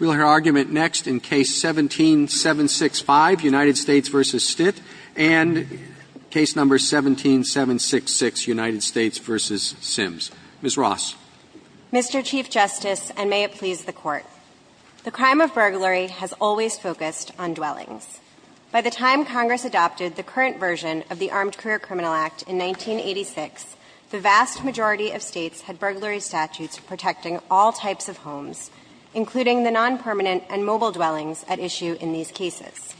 We will hear argument next in Case 17-765, United States v. Stitt, and Case No. 17-766, United States v. Sims. Ms. Ross. Mr. Chief Justice, and may it please the Court. The crime of burglary has always focused on dwellings. By the time Congress adopted the current version of the Armed Career Criminal Act in 1986, the vast majority of States had burglary statutes protecting all types of homes, including the nonpermanent and mobile dwellings at issue in these cases.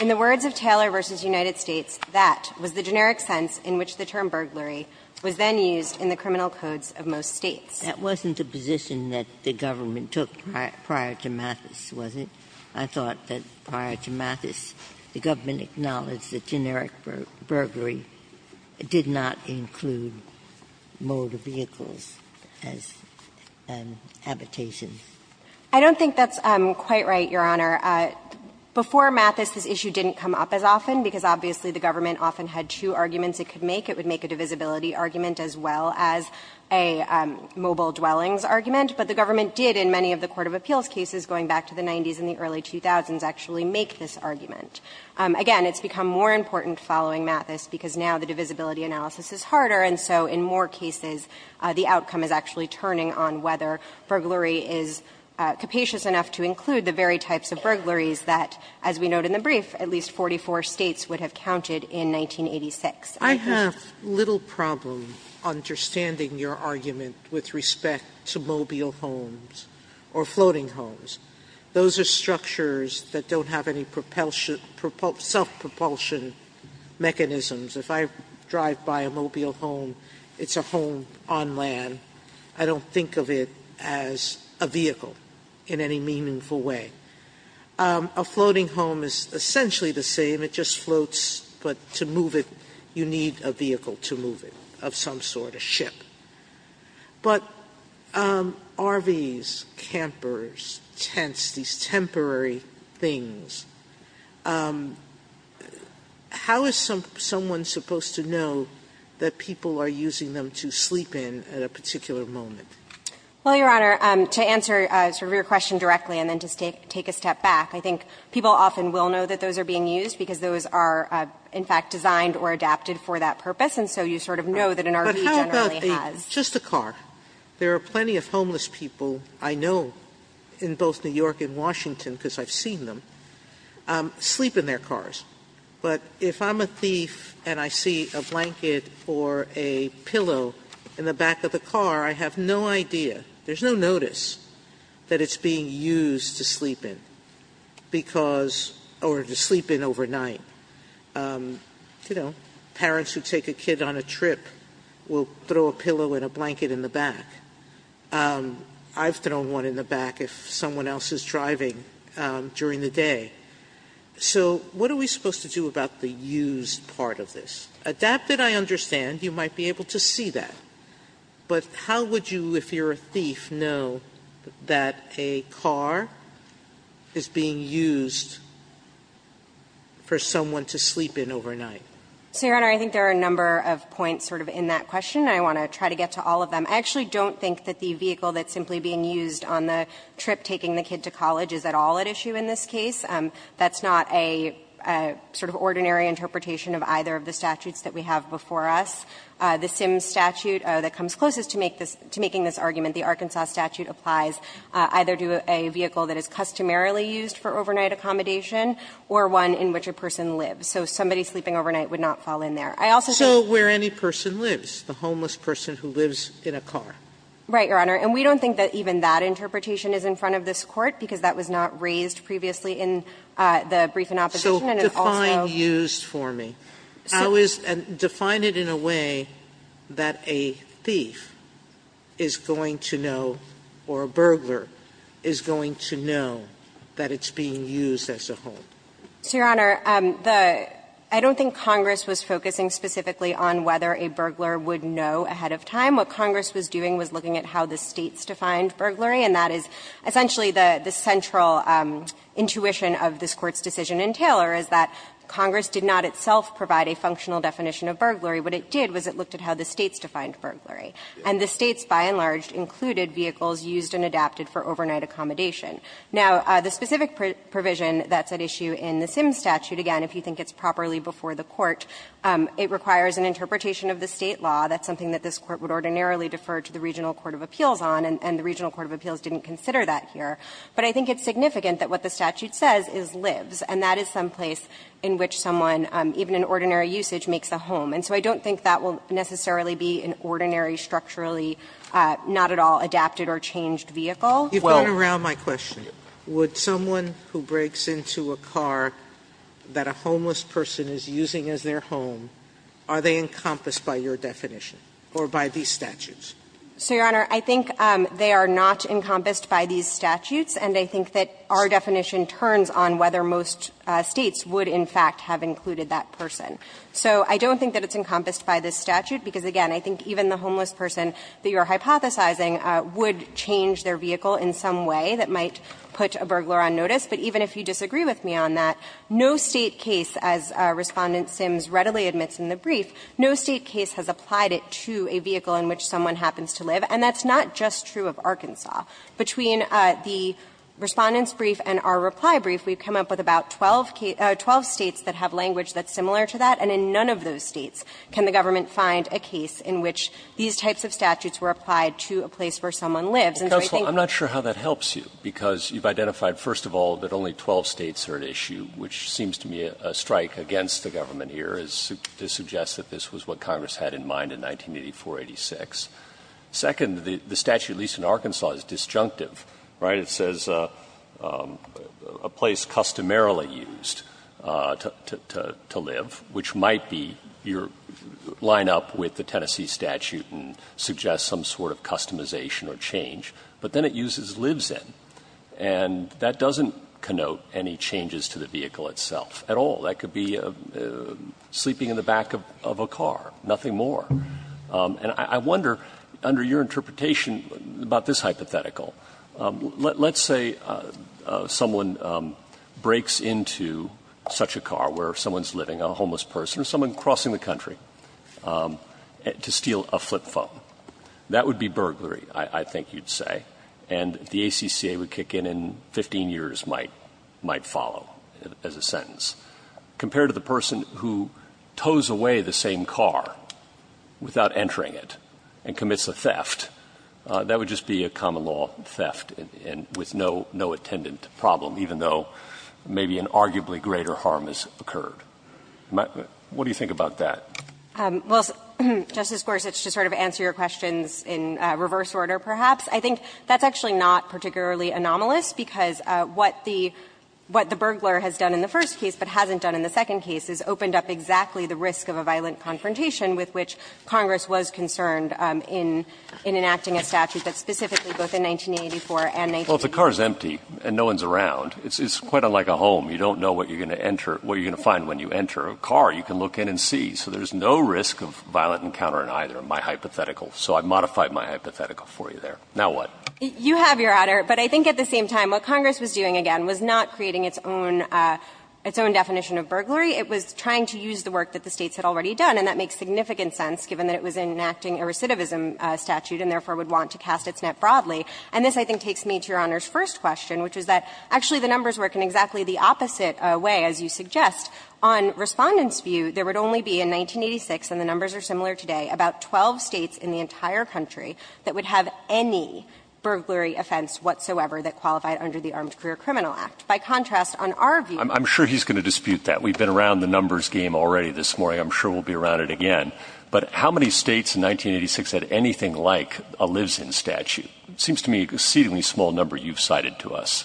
In the words of Taylor v. United States, that was the generic sense in which the term burglary was then used in the criminal codes of most States. That wasn't the position that the government took prior to Mathis, was it? I thought that prior to Mathis, the government acknowledged that generic burglary did not include motor vehicles as habitations. I don't think that's quite right, Your Honor. Before Mathis, this issue didn't come up as often, because obviously the government often had two arguments it could make. It would make a divisibility argument as well as a mobile dwellings argument. But the government did in many of the court of appeals cases going back to the 90s and the early 2000s actually make this argument. Again, it's become more important following Mathis, because now the divisibility analysis is harder, and so in more cases the outcome is actually turning on whether burglary is capacious enough to include the very types of burglaries that, as we note in the brief, at least 44 States would have counted in 1986. Sotomayor, I have little problem understanding your argument with respect to mobile homes or floating homes. Those are structures that don't have any self-propulsion mechanisms. If I drive by a mobile home, it's a home on land. I don't think of it as a vehicle in any meaningful way. A floating home is essentially the same. It just floats, but to move it, you need a vehicle to move it. But RVs, campers, tents, these temporary things, how is someone supposed to know that people are using them to sleep in at a particular moment? Well, Your Honor, to answer sort of your question directly and then to take a step back, I think people often will know that those are being used because those are in fact designed or adapted for that purpose, and so you sort of know that an RV generally has them. Just a car. There are plenty of homeless people I know in both New York and Washington because I've seen them sleep in their cars, but if I'm a thief and I see a blanket or a pillow in the back of the car, I have no idea. There's no notice that it's being used to sleep in because, or to sleep in overnight. You know, parents who take a kid on a trip will throw a pillow and a blanket in the back. I've thrown one in the back if someone else is driving during the day. So what are we supposed to do about the used part of this? Adapted, I understand. You might be able to see that. But how would you, if you're a thief, know that a car is being used for someone to sleep in overnight? So, Your Honor, I think there are a number of points sort of in that question. I want to try to get to all of them. I actually don't think that the vehicle that's simply being used on the trip taking the kid to college is at all at issue in this case. That's not a sort of ordinary interpretation of either of the statutes that we have before us. The Sims statute that comes closest to making this argument, the Arkansas statute, applies either to a vehicle that is customarily used for overnight accommodation or one in which a person lives. So somebody sleeping overnight would not fall in there. I also think... So where any person lives, the homeless person who lives in a car. Right, Your Honor. And we don't think that even that interpretation is in front of this court because that was not raised previously in the brief in opposition and it also... So define used for me. How is... and define it in a way that a thief is going to know or a burglar is going to know that it's being used as a home. So, Your Honor, I don't think Congress was focusing specifically on whether a burglar would know ahead of time. What Congress was doing was looking at how the States defined burglary and that is essentially the central intuition of this Court's decision in Taylor is that Congress did not itself provide a functional definition of burglary. What it did was it looked at how the States defined burglary. And the States, by and large, included vehicles used and adapted for overnight accommodation. Now, the specific provision that's at issue in the Sims statute, again, if you think it's properly before the Court, it requires an interpretation of the State law. That's something that this Court would ordinarily defer to the Regional Court of Appeals on and the Regional Court of Appeals didn't consider that here. But I think it's significant that what the statute says is lives and that is someplace in which someone, even in ordinary usage, makes a home. And so I don't think that will necessarily be an ordinary, structurally not at all adapted or changed vehicle. Sotomayor, you've gone around my question. Would someone who breaks into a car that a homeless person is using as their home, are they encompassed by your definition or by these statutes? So, Your Honor, I think they are not encompassed by these statutes and I think that our definition turns on whether most States would, in fact, have included that person. So I don't think that it's encompassed by this statute because, again, I think even the homeless person that you're hypothesizing would change their vehicle in some way that might put a burglar on notice. But even if you disagree with me on that, no State case, as Respondent Sims readily admits in the brief, no State case has applied it to a vehicle in which someone happens to live. And that's not just true of Arkansas. Between the Respondent's brief and our reply brief, we've come up with about 12 States that have language that's similar to that, and in none of those States can the government find a case in which these types of statutes were applied to a place where someone lives. And so I think you're right. Roberts, I'm not sure how that helps you, because you've identified, first of all, that only 12 States are at issue, which seems to me a strike against the government here, as to suggest that this was what Congress had in mind in 1984-86. Second, the statute, at least in Arkansas, is disjunctive, right? It doesn't sign up with the Tennessee statute and suggest some sort of customization or change, but then it uses lives in, and that doesn't connote any changes to the vehicle itself at all. That could be sleeping in the back of a car, nothing more. And I wonder, under your interpretation about this hypothetical, let's say someone breaks into such a car where someone's living, a homeless person, or someone crossing the country. To steal a flip phone, that would be burglary, I think you'd say, and the ACCA would kick in, and 15 years might follow as a sentence. Compared to the person who tows away the same car without entering it and commits a theft, that would just be a common-law theft with no attendant problem, even though maybe an arguably greater harm has occurred. What do you think about that? Well, Justice Gorsuch, to sort of answer your questions in reverse order, perhaps, I think that's actually not particularly anomalous, because what the burglar has done in the first case but hasn't done in the second case is opened up exactly the risk of a violent confrontation with which Congress was concerned in enacting a statute, but specifically both in 1984 and 1980. Well, if the car is empty and no one's around, it's quite unlike a home. You don't know what you're going to enter, what you're going to find when you enter a car. You can look in and see. So there's no risk of violent encounter in either, in my hypothetical. So I've modified my hypothetical for you there. Now what? You have, Your Honor, but I think at the same time what Congress was doing, again, was not creating its own definition of burglary. It was trying to use the work that the States had already done, and that makes significant sense, given that it was enacting a recidivism statute and therefore would want to cast its net broadly. And this, I think, takes me to Your Honor's first question, which is that, actually, the numbers work in exactly the opposite way, as you suggest. On Respondent's view, there would only be, in 1986, and the numbers are similar today, about 12 States in the entire country that would have any burglary offense whatsoever that qualified under the Armed Career Criminal Act. By contrast, on our view, there would only be about 12 States in the entire country that would have any burglary offense whatsoever that qualified under the Armed Career Criminal Act. It seems to me an exceedingly small number you've cited to us.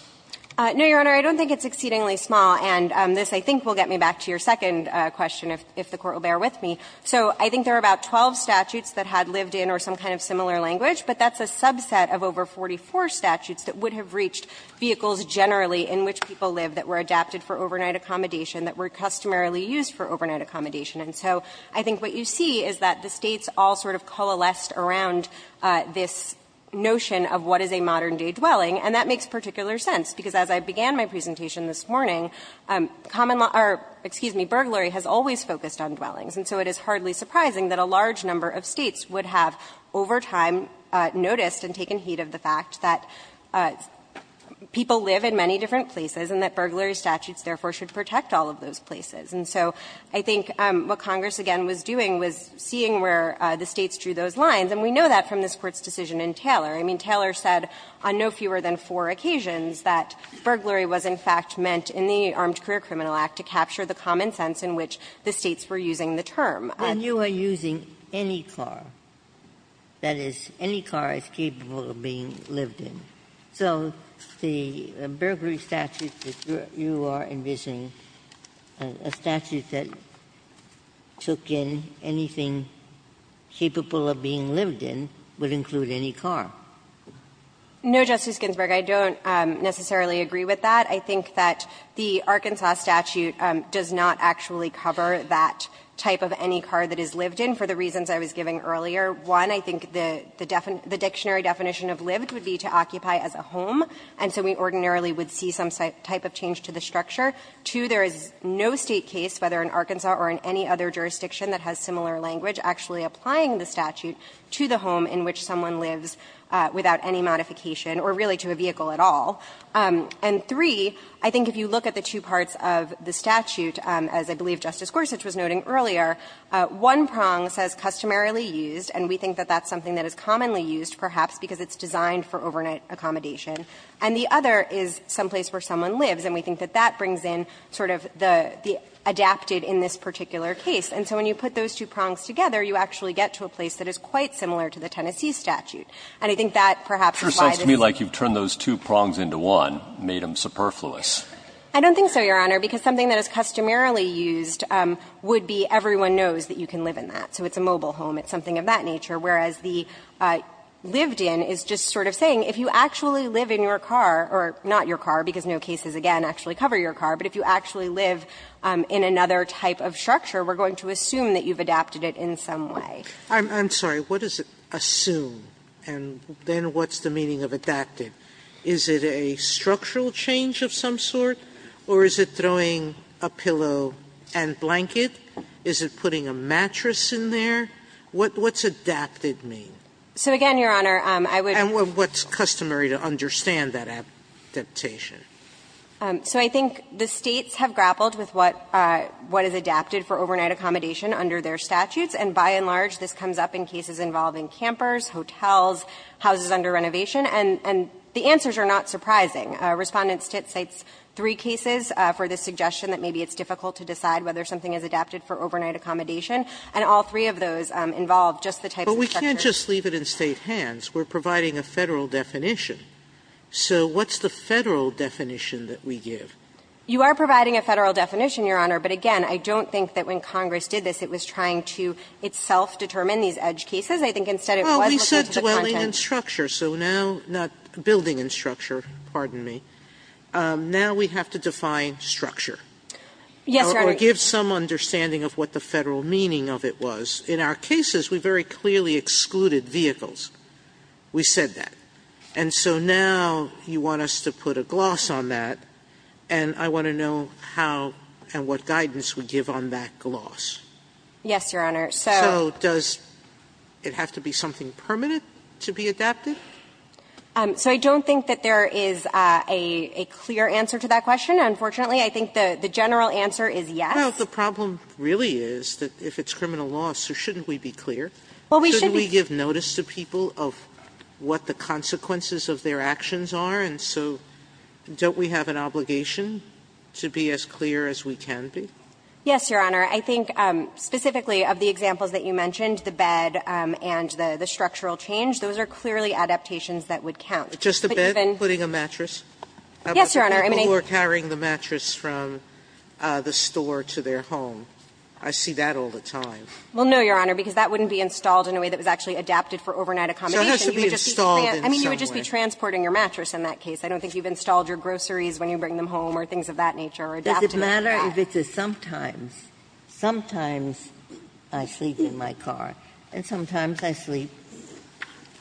No, Your Honor, I don't think it's exceedingly small, and this, I think, will get me back to your second question, if the Court will bear with me. So I think there are about 12 statutes that had lived in or some kind of similar language, but that's a subset of over 44 statutes that would have reached vehicles generally in which people lived that were adapted for overnight accommodation, that were customarily used for overnight accommodation. And so I think what you see is that the States all sort of coalesced around this notion of what is a modern-day dwelling, and that makes particular sense, because as I began my presentation this morning, common law or, excuse me, burglary has always focused on dwellings. And so it is hardly surprising that a large number of States would have, over time, noticed and taken heed of the fact that people live in many different places and that burglary statutes, therefore, should protect all of those places. And so I think what Congress, again, was doing was seeing where the States drew those I mean, Taylor said on no fewer than four occasions that burglary was, in fact, meant in the Armed Career Criminal Act to capture the common sense in which the States were using the term. Ginsburg. When you are using any car, that is, any car is capable of being lived in, so the burglary statute that you are envisioning, a statute that took in anything capable of being lived in would include any car. No, Justice Ginsburg, I don't necessarily agree with that. I think that the Arkansas statute does not actually cover that type of any car that is lived in for the reasons I was giving earlier. One, I think the dictionary definition of lived would be to occupy as a home, and so we ordinarily would see some type of change to the structure. Two, there is no State case, whether in Arkansas or in any other jurisdiction that has similar language, actually applying the statute to the home in which someone lives without any modification, or really to a vehicle at all. And three, I think if you look at the two parts of the statute, as I believe Justice Gorsuch was noting earlier, one prong says customarily used, and we think that that's something that is commonly used perhaps because it's designed for overnight accommodation, and the other is someplace where someone lives, and we think that that brings in sort of the adapted in this particular case. And so when you put those two prongs together, you actually get to a place that is quite similar to the Tennessee statute. And I think that perhaps is why this is the case. Breyer, it sure sounds to me like you've turned those two prongs into one, made them superfluous. I don't think so, Your Honor, because something that is customarily used would be everyone knows that you can live in that, so it's a mobile home, it's something of that nature, whereas the lived in is just sort of saying if you actually live in your car, or not your car, because no cases, again, actually cover your car, but if you actually live in another type of structure, we're going to assume that you've adapted it in some way. Sotomayor, I'm sorry. What is it assume, and then what's the meaning of adapted? Is it a structural change of some sort, or is it throwing a pillow and blanket? Is it putting a mattress in there? What's adapted mean? So, again, Your Honor, I would say that's customary to understand. Sotomayor, I would say that's customary to understand that adaptation. So I think the States have grappled with what is adapted for overnight accommodation under their statutes, and by and large, this comes up in cases involving campers, hotels, houses under renovation, and the answers are not surprising. Respondent Stitt cites three cases for the suggestion that maybe it's difficult to decide whether something is adapted for overnight accommodation, and all three of those involve just the type of structure. But we can't just leave it in State hands. We're providing a Federal definition. So what's the Federal definition that we give? You are providing a Federal definition, Your Honor, but, again, I don't think that when Congress did this, it was trying to itself determine these edge cases. I think instead it was looking to the content. Well, we said dwelling in structure, so now not building in structure, pardon me, now we have to define structure. Yes, Your Honor. Or give some understanding of what the Federal meaning of it was. In our cases, we very clearly excluded vehicles. We said that. And so now you want us to put a gloss on that, and I want to know how and what guidance we give on that gloss. Yes, Your Honor. So does it have to be something permanent to be adapted? So I don't think that there is a clear answer to that question, unfortunately. I think the general answer is yes. Well, the problem really is that if it's criminal law, so shouldn't we be clear? Well, we should be. We should give notice to people of what the consequences of their actions are, and so don't we have an obligation to be as clear as we can be? Yes, Your Honor. I think specifically of the examples that you mentioned, the bed and the structural change, those are clearly adaptations that would count. But even the bed. Just the bed, including a mattress? Yes, Your Honor. I mean, I think the people who are carrying the mattress from the store to their home, I see that all the time. Well, no, Your Honor, because that wouldn't be installed in a way that was actually adapted for overnight accommodation. You would just be transporting your mattress in that case. I don't think you've installed your groceries when you bring them home or things of that nature or adapted for that. Does it matter if it's a sometimes, sometimes I sleep in my car, and sometimes I sleep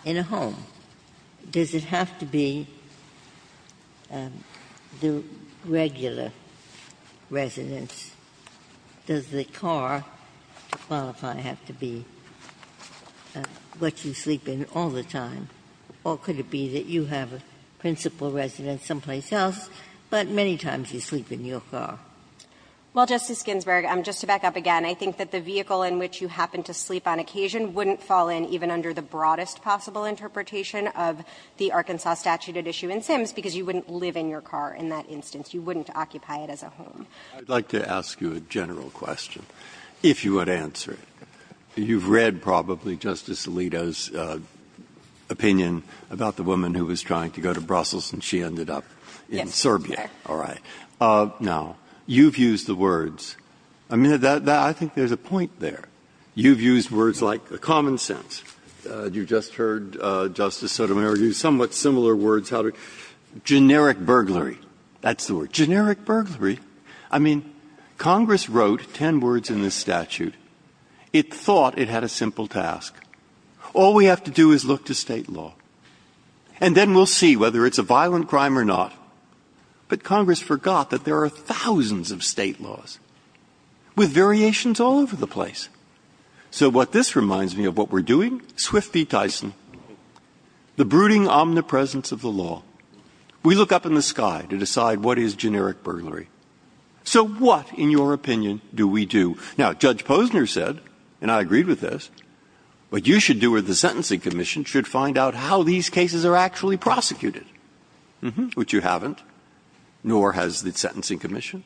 in a home? Does it have to be the regular residence? Does the car, to qualify, have to be what you sleep in all the time? Or could it be that you have a principal residence someplace else, but many times you sleep in your car? Well, Justice Ginsburg, just to back up again, I think that the vehicle in which you happen to sleep on occasion wouldn't fall in even under the broadest possible interpretation of the Arkansas statute at issue in Sims, because you wouldn't live in your car in that instance. You wouldn't occupy it as a home. I'd like to ask you a general question, if you would answer it. You've read probably Justice Alito's opinion about the woman who was trying to go to Brussels, and she ended up in Serbia. All right. Now, you've used the words — I mean, I think there's a point there. You've used words like common sense. You just heard Justice Sotomayor use somewhat similar words. Generic burglary. That's the word. Generic burglary. I mean, Congress wrote 10 words in this statute. It thought it had a simple task. All we have to do is look to state law, and then we'll see whether it's a violent crime or not. But Congress forgot that there are thousands of state laws with variations all over the place. So what this reminds me of what we're doing, Swift v. Tyson, the brooding omnipresence of the law. We look up in the sky to decide what is generic burglary. So what, in your opinion, do we do? Now, Judge Posner said, and I agreed with this, what you should do or the Sentencing Commission should find out how these cases are actually prosecuted, which you haven't, nor has the Sentencing Commission.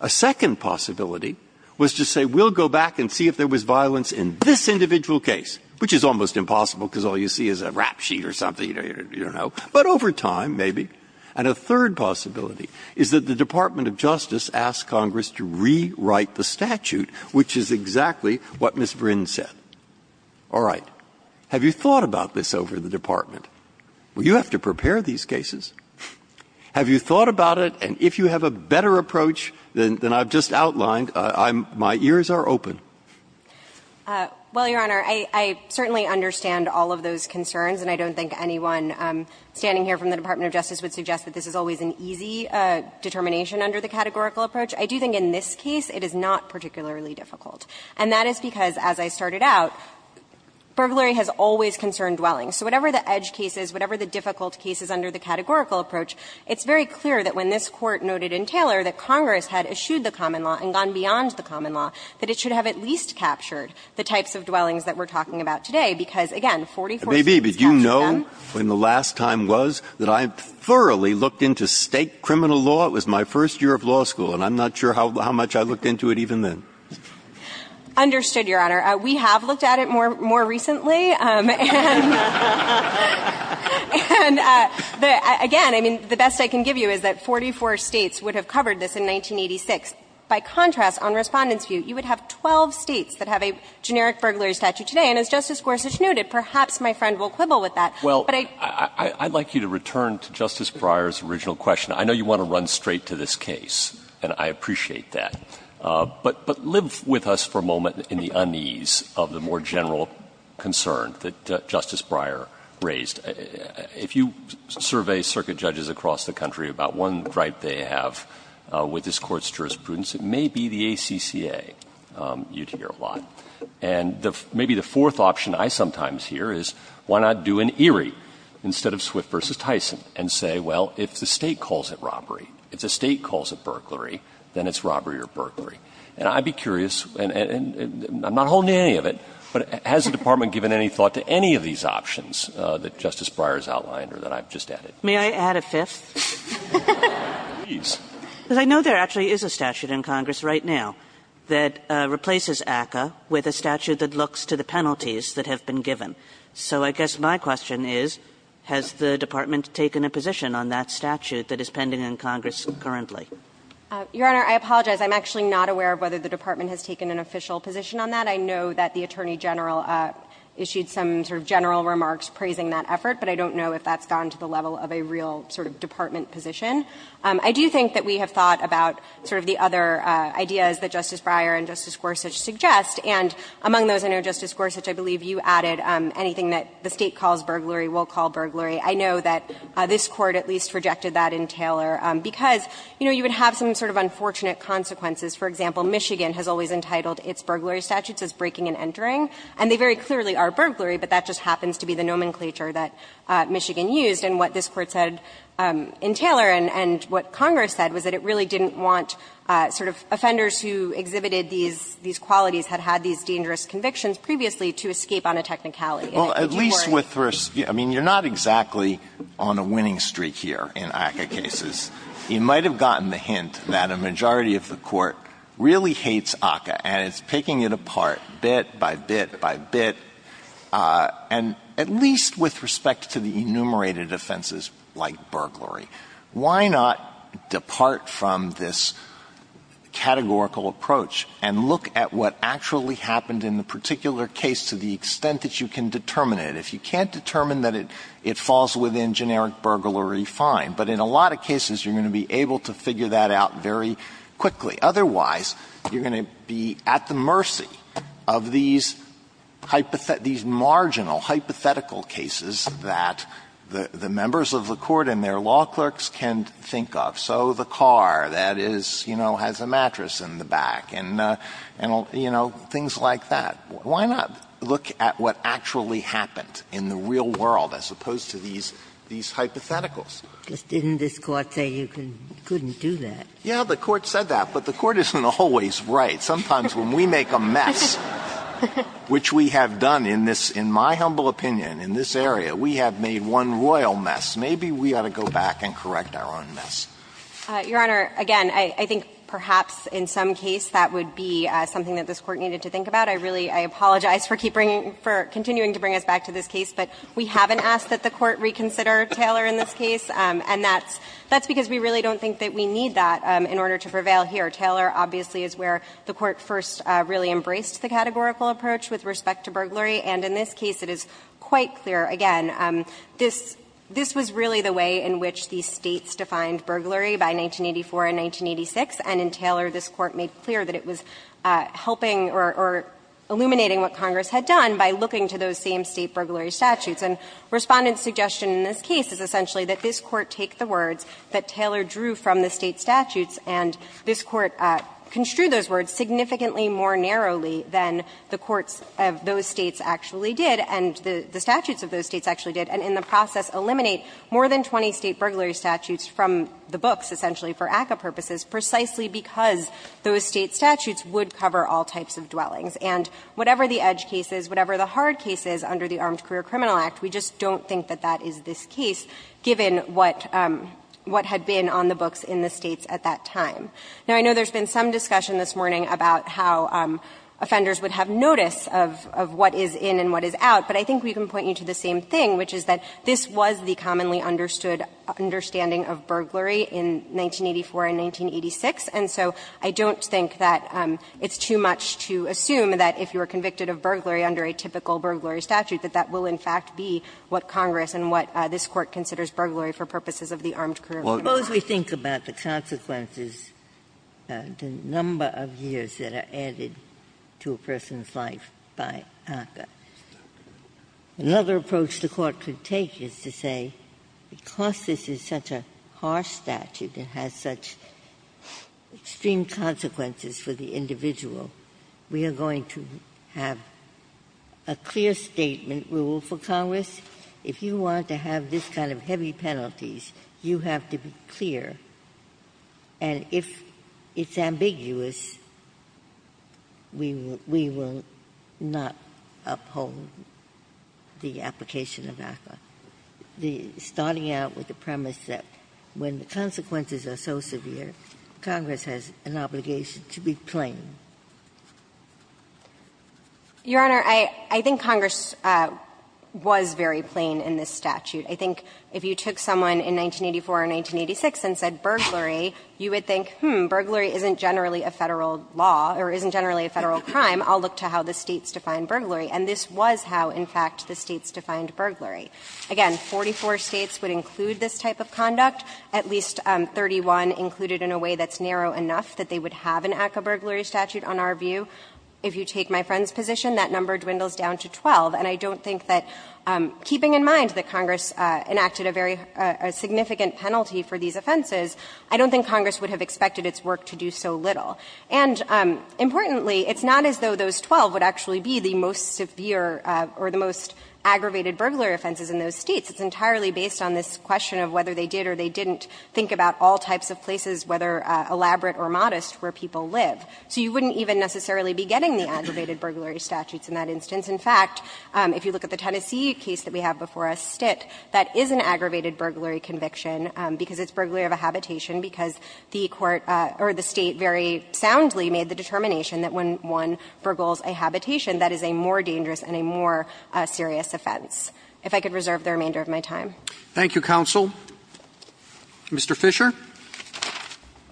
A second possibility was to say, we'll go back and see if there was violence in this individual case, which is almost impossible because all you see is a rap sheet or something, you know. But over time, maybe. And a third possibility is that the Department of Justice asked Congress to rewrite the statute, which is exactly what Ms. Vrind said. All right. Have you thought about this over the Department? Well, you have to prepare these cases. Have you thought about it? And if you have a better approach than I've just outlined, I'm my ears are open. Well, Your Honor, I certainly understand all of those concerns, and I don't think anyone standing here from the Department of Justice would suggest that this is always an easy determination under the categorical approach. I do think in this case it is not particularly difficult, and that is because, as I started out, burglary has always concerned dwellings. So whatever the edge case is, whatever the difficult case is under the categorical approach, it's very clear that when this Court noted in Taylor that Congress had eschewed the common law and gone beyond the common law, that it should have at least captured the types of dwellings that we're talking about today, because, again, 44 states captured them. When the last time was that I thoroughly looked into State criminal law, it was my first year of law school, and I'm not sure how much I looked into it even then. Understood, Your Honor. We have looked at it more recently. And, again, I mean, the best I can give you is that 44 states would have covered this in 1986. By contrast, on Respondent's view, you would have 12 states that have a generic burglary statute today. And as Justice Gorsuch noted, perhaps my friend will quibble with that. But I don't know. Well, I'd like you to return to Justice Breyer's original question. I know you want to run straight to this case, and I appreciate that. But live with us for a moment in the unease of the more general concern that Justice Breyer raised. If you survey circuit judges across the country about one gripe they have with this Court's jurisprudence, it may be the ACCA. You'd hear a lot. And maybe the fourth option I sometimes hear is, why not do an ERIE instead of Swift v. Tyson and say, well, if the state calls it robbery, if the state calls it burglary, then it's robbery or burglary. And I'd be curious, and I'm not holding any of it, but has the Department given any thought to any of these options that Justice Breyer's outlined or that I've just added? May I add a fifth? Please. Because I know there actually is a statute in Congress right now that replaces ACCA with a statute that looks to the penalties that have been given. So I guess my question is, has the Department taken a position on that statute that is pending in Congress currently? Your Honor, I apologize. I'm actually not aware of whether the Department has taken an official position on that. I know that the Attorney General issued some sort of general remarks praising that effort, but I don't know if that's gone to the level of a real sort of Department position. I do think that we have thought about sort of the other ideas that Justice Breyer and Justice Gorsuch suggest, and among those, I know, Justice Gorsuch, I believe you added anything that the State calls burglary will call burglary. I know that this Court at least rejected that in Taylor because, you know, you would have some sort of unfortunate consequences. For example, Michigan has always entitled its burglary statutes as breaking and entering, and they very clearly are burglary, but that just happens to be the nomenclature that Michigan used. And what this Court said in Taylor and what Congress said was that it really didn't want sort of offenders who exhibited these qualities, had had these dangerous convictions previously to escape on a technicality. Alito, would you worry? Alito, I mean, you're not exactly on a winning streak here in ACCA cases. You might have gotten the hint that a majority of the Court really hates ACCA, and it's picking it apart bit by bit by bit, and at least with respect to the enumerated offenses like burglary. Why not depart from this categorical approach and look at what actually happened in the particular case to the extent that you can determine it? If you can't determine that it falls within generic burglary, fine, but in a lot of cases you're going to be able to figure that out very quickly. Otherwise, you're going to be at the mercy of these marginal hypothetical cases that the members of the Court and their law clerks can think of. So the car that is, you know, has a mattress in the back and, you know, things like that. Why not look at what actually happened in the real world as opposed to these hypotheticals? Ginsburg. Didn't this Court say you couldn't do that? Alito. Yeah, the Court said that, but the Court isn't always right. Sometimes when we make a mess, which we have done in this, in my humble opinion, in this area, we have made one royal mess. Maybe we ought to go back and correct our own mess. Your Honor, again, I think perhaps in some case that would be something that this Court needed to think about. I really apologize for continuing to bring us back to this case, but we haven't asked that the Court reconsider Taylor in this case, and that's because we really don't think that we need that in order to prevail here. Taylor, obviously, is where the Court first really embraced the categorical approach with respect to burglary, and in this case it is quite clear. Again, this was really the way in which these States defined burglary by 1984 and 1986, and in Taylor, this Court made clear that it was helping or illuminating what Congress had done by looking to those same State burglary statutes. And Respondent's suggestion in this case is essentially that this Court take the words that Taylor drew from the State statutes, and this Court construed those words significantly more narrowly than the courts of those States actually did, and the statutes of those States actually did, and in the process eliminate more than 20 State burglary statutes from the books, essentially, for ACCA purposes, precisely because those State statutes would cover all types of dwellings. And whatever the edge case is, whatever the hard case is under the Armed Career and Criminal Act, we just don't think that that is this case, given what had been on the books in the States at that time. Now, I know there's been some discussion this morning about how offenders would have notice of what is in and what is out, but I think we can point you to the same thing, which is that this was the commonly understood understanding of burglary in 1984 and 1986, and so I don't think that it's too much to assume that if you were convicted of burglary under a typical burglary statute, that that will influence the fact be what Congress and what this Court considers burglary for purposes of the Armed Career and Criminal Act. Ginsburg's Suppose we think about the consequences, the number of years that are added to a person's life by ACCA. Another approach the Court could take is to say, because this is such a harsh statute and has such extreme consequences for the individual, we are going to have a clear statement rule for Congress. If you want to have this kind of heavy penalties, you have to be clear, and if it's ambiguous, we will not uphold the application of ACCA, starting out with the premise that when the consequences are so severe, Congress has an obligation to be plain. Your Honor, I think Congress was very plain in this statute. I think if you took someone in 1984 or 1986 and said burglary, you would think, hmm, burglary isn't generally a Federal law or isn't generally a Federal crime. I'll look to how the States define burglary. And this was how, in fact, the States defined burglary. Again, 44 States would include this type of conduct. At least 31 included in a way that's narrow enough that they would have an ACCA burglary statute. On our view, if you take my friend's position, that number dwindles down to 12. And I don't think that, keeping in mind that Congress enacted a very significant penalty for these offenses, I don't think Congress would have expected its work to do so little. And importantly, it's not as though those 12 would actually be the most severe or the most aggravated burglary offenses in those States. It's entirely based on this question of whether they did or they didn't think about all types of places, whether elaborate or modest, where people live. So you wouldn't even necessarily be getting the aggravated burglary statutes in that instance. In fact, if you look at the Tennessee case that we have before us, Stitt, that is an aggravated burglary conviction because it's burglary of a habitation, because the Court or the State very soundly made the determination that when one burgles a habitation, that is a more dangerous and a more serious offense. If I could reserve the remainder of my time. Roberts. Thank you, counsel. Mr. Fisher. Fisher.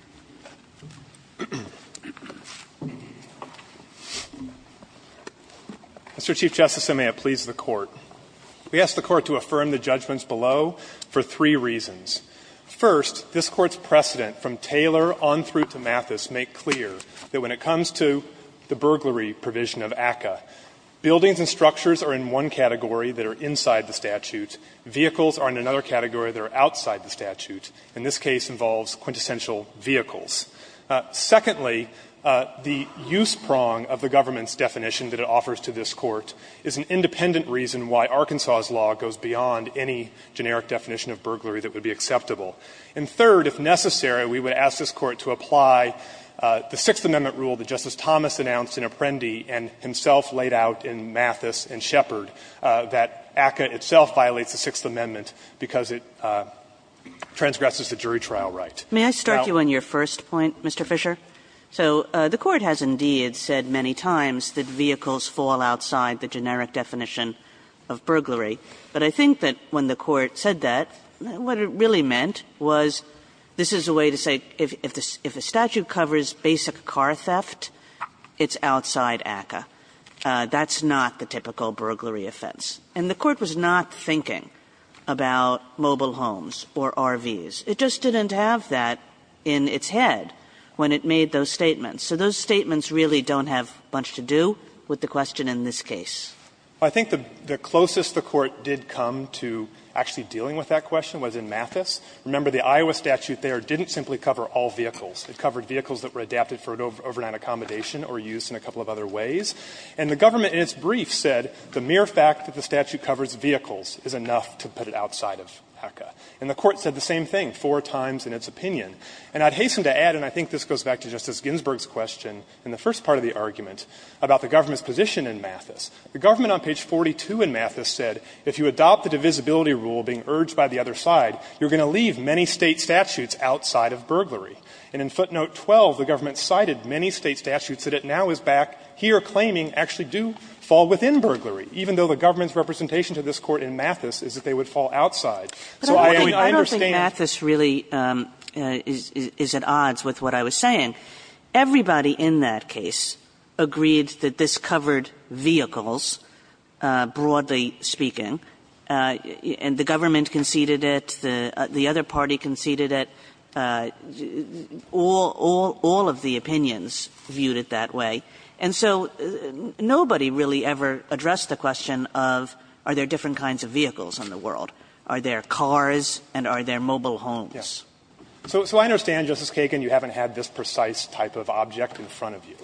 Mr. Chief Justice, and may it please the Court. We ask the Court to affirm the judgments below for three reasons. First, this Court's precedent from Taylor on through to Mathis make clear that when it comes to the burglary provision of ACCA, buildings and structures are in one category that are inside the statute. Vehicles are in another category that are outside the statute. And this case involves quintessential vehicles. Secondly, the use prong of the government's definition that it offers to this Court is an independent reason why Arkansas's law goes beyond any generic definition of burglary that would be acceptable. And third, if necessary, we would ask this Court to apply the Sixth Amendment rule that Justice Thomas announced in Apprendi and himself laid out in Mathis and Shepard, that ACCA itself violates the Sixth Amendment because it transgresses the jury trial right. Kagan. May I start you on your first point, Mr. Fisher? So the Court has indeed said many times that vehicles fall outside the generic definition of burglary. But I think that when the Court said that, what it really meant was this is a way to say if the statute covers basic car theft, it's outside ACCA. That's not the typical burglary offense. And the Court was not thinking about mobile homes or RVs. It just didn't have that in its head when it made those statements. So those statements really don't have much to do with the question in this case. Fisher. I think the closest the Court did come to actually dealing with that question was in Mathis. Remember, the Iowa statute there didn't simply cover all vehicles. It covered vehicles that were adapted for overnight accommodation or use in a couple of other ways. And the government in its brief said the mere fact that the statute covers vehicles is enough to put it outside of ACCA. And the Court said the same thing four times in its opinion. And I'd hasten to add, and I think this goes back to Justice Ginsburg's question in the first part of the argument about the government's position in Mathis. The government on page 42 in Mathis said if you adopt the divisibility rule being urged by the other side, you're going to leave many State statutes outside of burglary. And in footnote 12, the government cited many State statutes that it now is back here claiming actually do fall within burglary, even though the government's representation to this Court in Mathis is that they would fall outside. So I understand. Kagan. I don't think Mathis really is at odds with what I was saying. Everybody in that case agreed that this covered vehicles, broadly speaking. And the government conceded it. The other party conceded it. All of the opinions viewed it that way. And so nobody really ever addressed the question of are there different kinds of vehicles in the world? Are there cars and are there mobile homes? Fisherman. So I understand, Justice Kagan, you haven't had this precise type of object in front of you.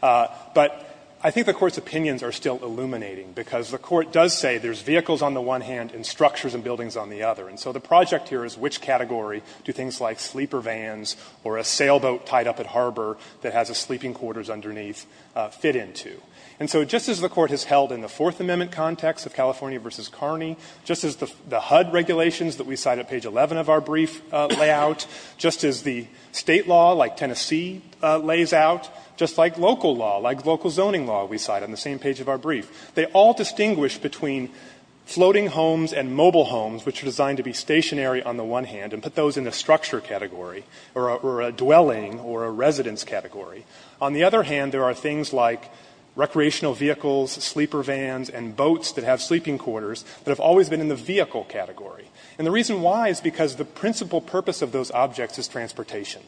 But I think the Court's opinions are still illuminating, because the Court does say there's vehicles on the one hand and structures and buildings on the other. And so the project here is which category do things like sleeper vans or a sailboat tied up at harbor that has a sleeping quarters underneath fit into? And so just as the Court has held in the Fourth Amendment context of California v. Kearney, just as the HUD regulations that we cite at page 11 of our brief lay out, just as the State law like Tennessee lays out, just like local law, like local zoning law we cite on the same page of our brief, they all distinguish between floating homes and mobile homes, which are designed to be stationary on the one hand and put those in the structure category or a dwelling or a residence category. On the other hand, there are things like recreational vehicles, sleeper vans, and boats that have sleeping quarters that have always been in the vehicle category. And the reason why is because the principal purpose of those objects is transportation.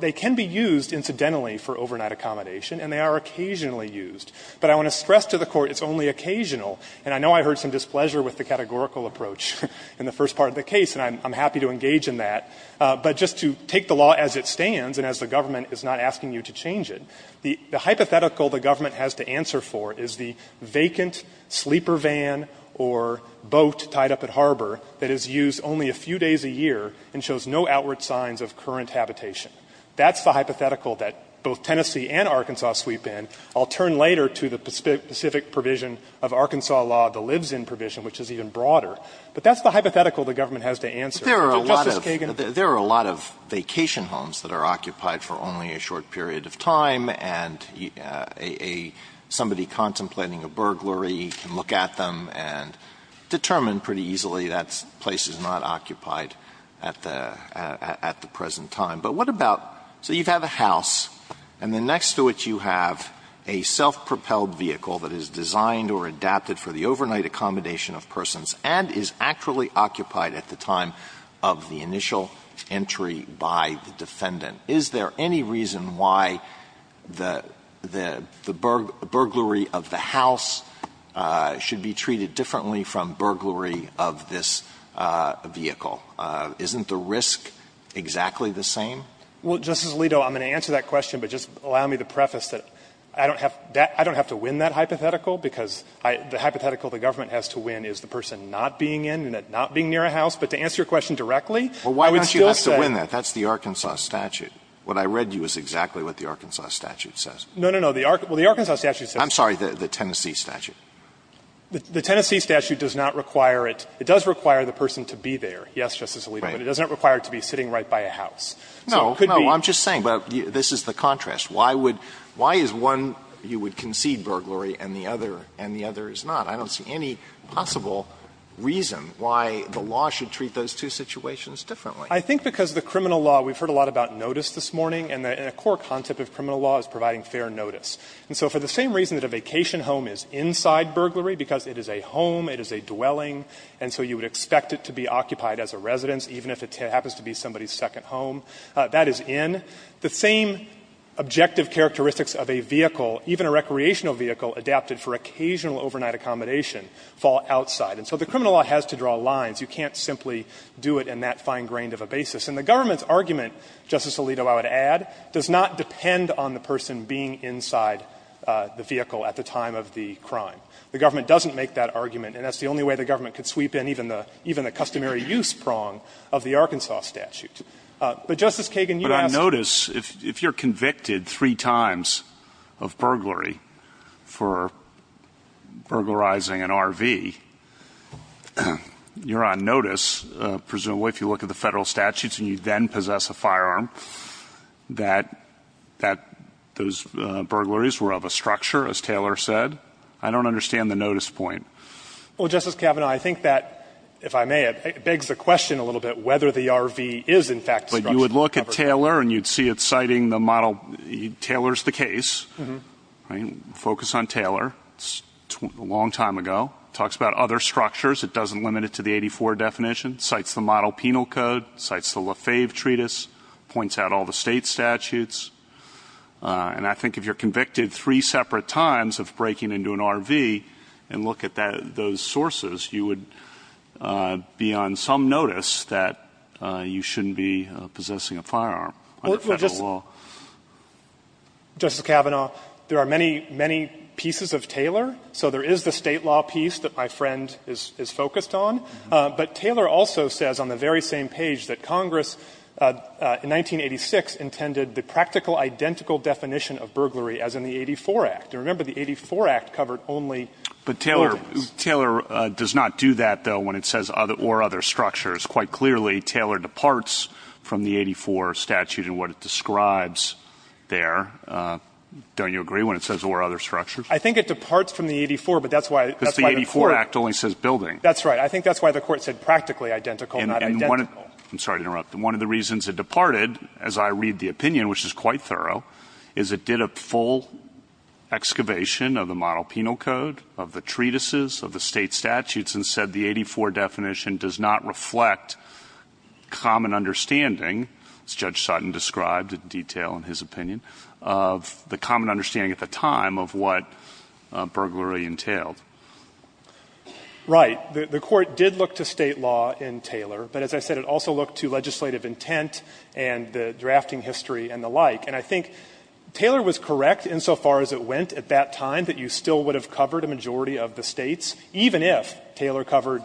They can be used, incidentally, for overnight accommodation, and they are occasionally used. But I want to stress to the Court it's only occasional. And I know I heard some displeasure with the categorical approach in the first part of the case, and I'm happy to engage in that. But just to take the law as it stands and as the government is not asking you to change it, the hypothetical the government has to answer for is the vacant sleeper van or boat tied up at harbor that is used only a few days a year and shows no outward signs of current habitation. That's the hypothetical that both Tennessee and Arkansas sweep in. I'll turn later to the specific provision of Arkansas law, the lives-in provision, which is even broader. But that's the hypothetical the government has to answer for. Alito, Justice Kagan. Alito, Justice Kagan. There are a lot of vacation homes that are occupied for only a short period of time, and somebody contemplating a burglary can look at them and determine pretty easily that place is not occupied at the present time. But what about so you have a house, and then next to it you have a self-propelled vehicle that is designed or adapted for the overnight accommodation of persons, and is actually occupied at the time of the initial entry by the defendant? Is there any reason why the burglary of the house should be treated differently from burglary of this vehicle? Isn't the risk exactly the same? Well, Justice Alito, I'm going to answer that question, but just allow me to preface this. I don't have to win that hypothetical, because the hypothetical the government has to win is the person not being in and not being near a house. But to answer your question directly, I would still say that's the Arkansas statute. What I read you is exactly what the Arkansas statute says. I'm sorry, the Tennessee statute. The Tennessee statute does not require it. It does require the person to be there, yes, Justice Alito, but it doesn't require it to be sitting right by a house. So it could be no, I'm just saying, but this is the contrast. Why would why is one you would concede burglary and the other and the other is not? I don't see any possible reason why the law should treat those two situations differently. I think because the criminal law, we've heard a lot about notice this morning, and a core concept of criminal law is providing fair notice. And so for the same reason that a vacation home is inside burglary, because it is a home, it is a dwelling, and so you would expect it to be occupied as a residence, even if it happens to be somebody's second home, that is in. The same objective characteristics of a vehicle, even a recreational vehicle adapted for occasional overnight accommodation, fall outside. And so the criminal law has to draw lines. You can't simply do it in that fine grain of a basis. And the government's argument, Justice Alito, I would add, does not depend on the person being inside the vehicle at the time of the crime. The government doesn't make that argument, and that's the only way the government could sweep in even the customary use prong of the Arkansas statute. But, Justice Kagan, you asked me to do that. But on notice, if you're convicted three times of burglary for burglarizing an RV, you're on notice, presumably, if you look at the Federal statutes and you then possess a firearm, that those burglaries were of a structure, as Taylor said. I don't understand the notice point. Well, Justice Kavanaugh, I think that, if I may, it begs the question a little bit whether the RV is, in fact, a structure. But you would look at Taylor and you'd see it citing the model. Taylor's the case. Mm-hmm. Right? Focus on Taylor. It's a long time ago. Talks about other structures. It doesn't limit it to the 84 definition. Cites the model penal code. Cites the Lefebvre treatise. Points out all the State statutes. And I think if you're convicted three separate times of breaking into an RV and look at those sources, you would be on some notice that you shouldn't be possessing a firearm under Federal law. Well, Justice Kavanaugh, there are many, many pieces of Taylor. So there is the State law piece that my friend is focused on. But Taylor also says on the very same page that Congress, in 1986, intended the practical identical definition of burglary as in the 84 Act. And remember, the 84 Act covered only buildings. But Taylor does not do that, though, when it says or other structures. Quite clearly, Taylor departs from the 84 statute in what it describes there. Don't you agree when it says or other structures? I think it departs from the 84, but that's why the Court — Because the 84 Act only says building. That's right. I think that's why the Court said practically identical, not identical. I'm sorry to interrupt. One of the reasons it departed, as I read the opinion, which is quite thorough, is it did a full excavation of the Model Penal Code, of the treatises, of the State statutes, and said the 84 definition does not reflect common understanding, as Judge Sutton described in detail in his opinion, of the common understanding at the time of what burglary entailed. Right. The Court did look to State law in Taylor, but as I said, it also looked to legislative intent and the drafting history and the like. And I think Taylor was correct insofar as it went at that time, that you still would have covered a majority of the States, even if Taylor covered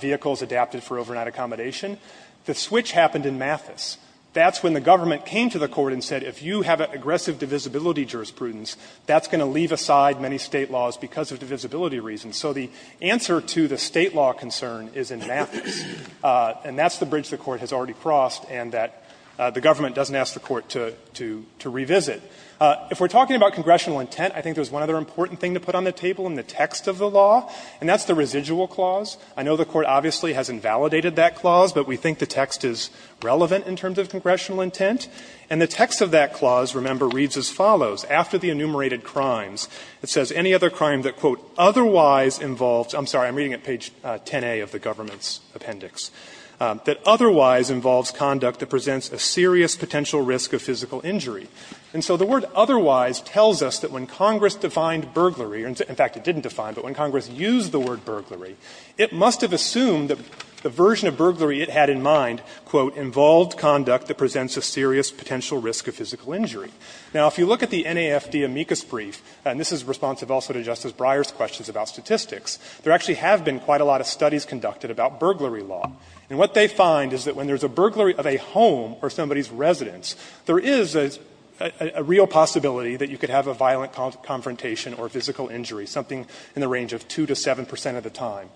vehicles adapted for overnight accommodation. The switch happened in Mathis. That's when the government came to the Court and said if you have aggressive divisibility jurisprudence, that's going to leave aside many State laws because of divisibility reasons. So the answer to the State law concern is in Mathis, and that's the bridge the Court has already crossed and that the government doesn't ask the Court to revisit. If we're talking about congressional intent, I think there's one other important thing to put on the table in the text of the law, and that's the residual clause. I know the Court obviously has invalidated that clause, but we think the text is relevant in terms of congressional intent. And the text of that clause, remember, reads as follows. After the enumerated crimes, it says any other crime that, quote, otherwise involves, I'm sorry, I'm reading at page 10A of the government's appendix, that otherwise involves conduct that presents a serious potential risk of physical injury. And so the word otherwise tells us that when Congress defined burglary, in fact, it didn't define, but when Congress used the word burglary, it must have assumed that the version of burglary it had in mind, quote, involved conduct that presents a serious potential risk of physical injury. Now, if you look at the NAFD amicus brief, and this is responsive also to Justice Breyer's questions about statistics, there actually have been quite a lot of studies conducted about burglary law. And what they find is that when there's a burglary of a home or somebody's residence, there is a real possibility that you could have a violent confrontation or physical injury, something in the range of 2 to 7 percent of the time.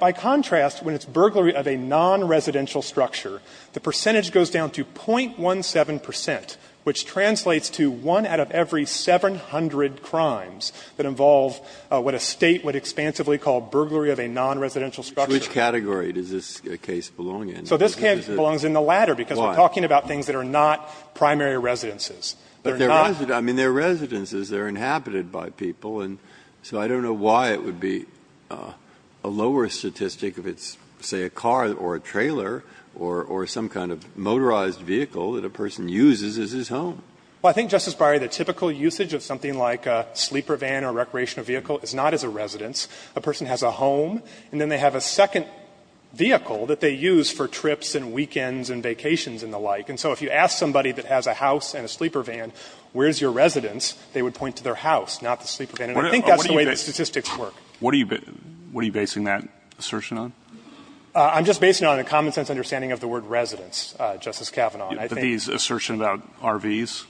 By contrast, when it's burglary of a non-residential structure, the percentage goes down to 0.17 percent, which translates to one out of every 700 crimes that involve what a State would expansively call burglary of a non-residential structure. Breyer. Which category does this case belong in? Fisher. So this case belongs in the latter, because we're talking about things that are not primary residences. Breyer. But they're not. I mean, they're residences. They're inhabited by people. And so I don't know why it would be a lower statistic if it's, say, a car or a trailer or some kind of motorized vehicle that a person uses as his home. Fisher. Well, I think, Justice Breyer, the typical usage of something like a sleeper van or recreational vehicle is not as a residence. A person has a home, and then they have a second vehicle that they use for trips and weekends and vacations and the like. And so if you ask somebody that has a house and a sleeper van, where's your residence, they would point to their house, not the sleeper van. And I think that's the way the statistics work. Breyer. What are you basing that assertion on? Fisher. I'm just basing it on a common-sense understanding of the word residence, Justice Kavanaugh. Breyer. The assertion about RVs?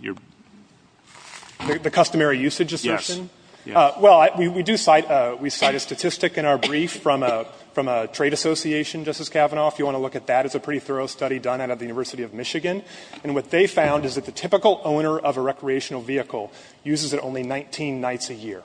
Fisher. The customary usage assertion? Breyer. Yes. Fisher. Well, we do cite a statistic in our brief from a trade association, Justice Kavanaugh, if you want to look at that. It's a pretty thorough study done out of the University of Michigan. And what they found is that the typical owner of a recreational vehicle uses it only 19 nights a year.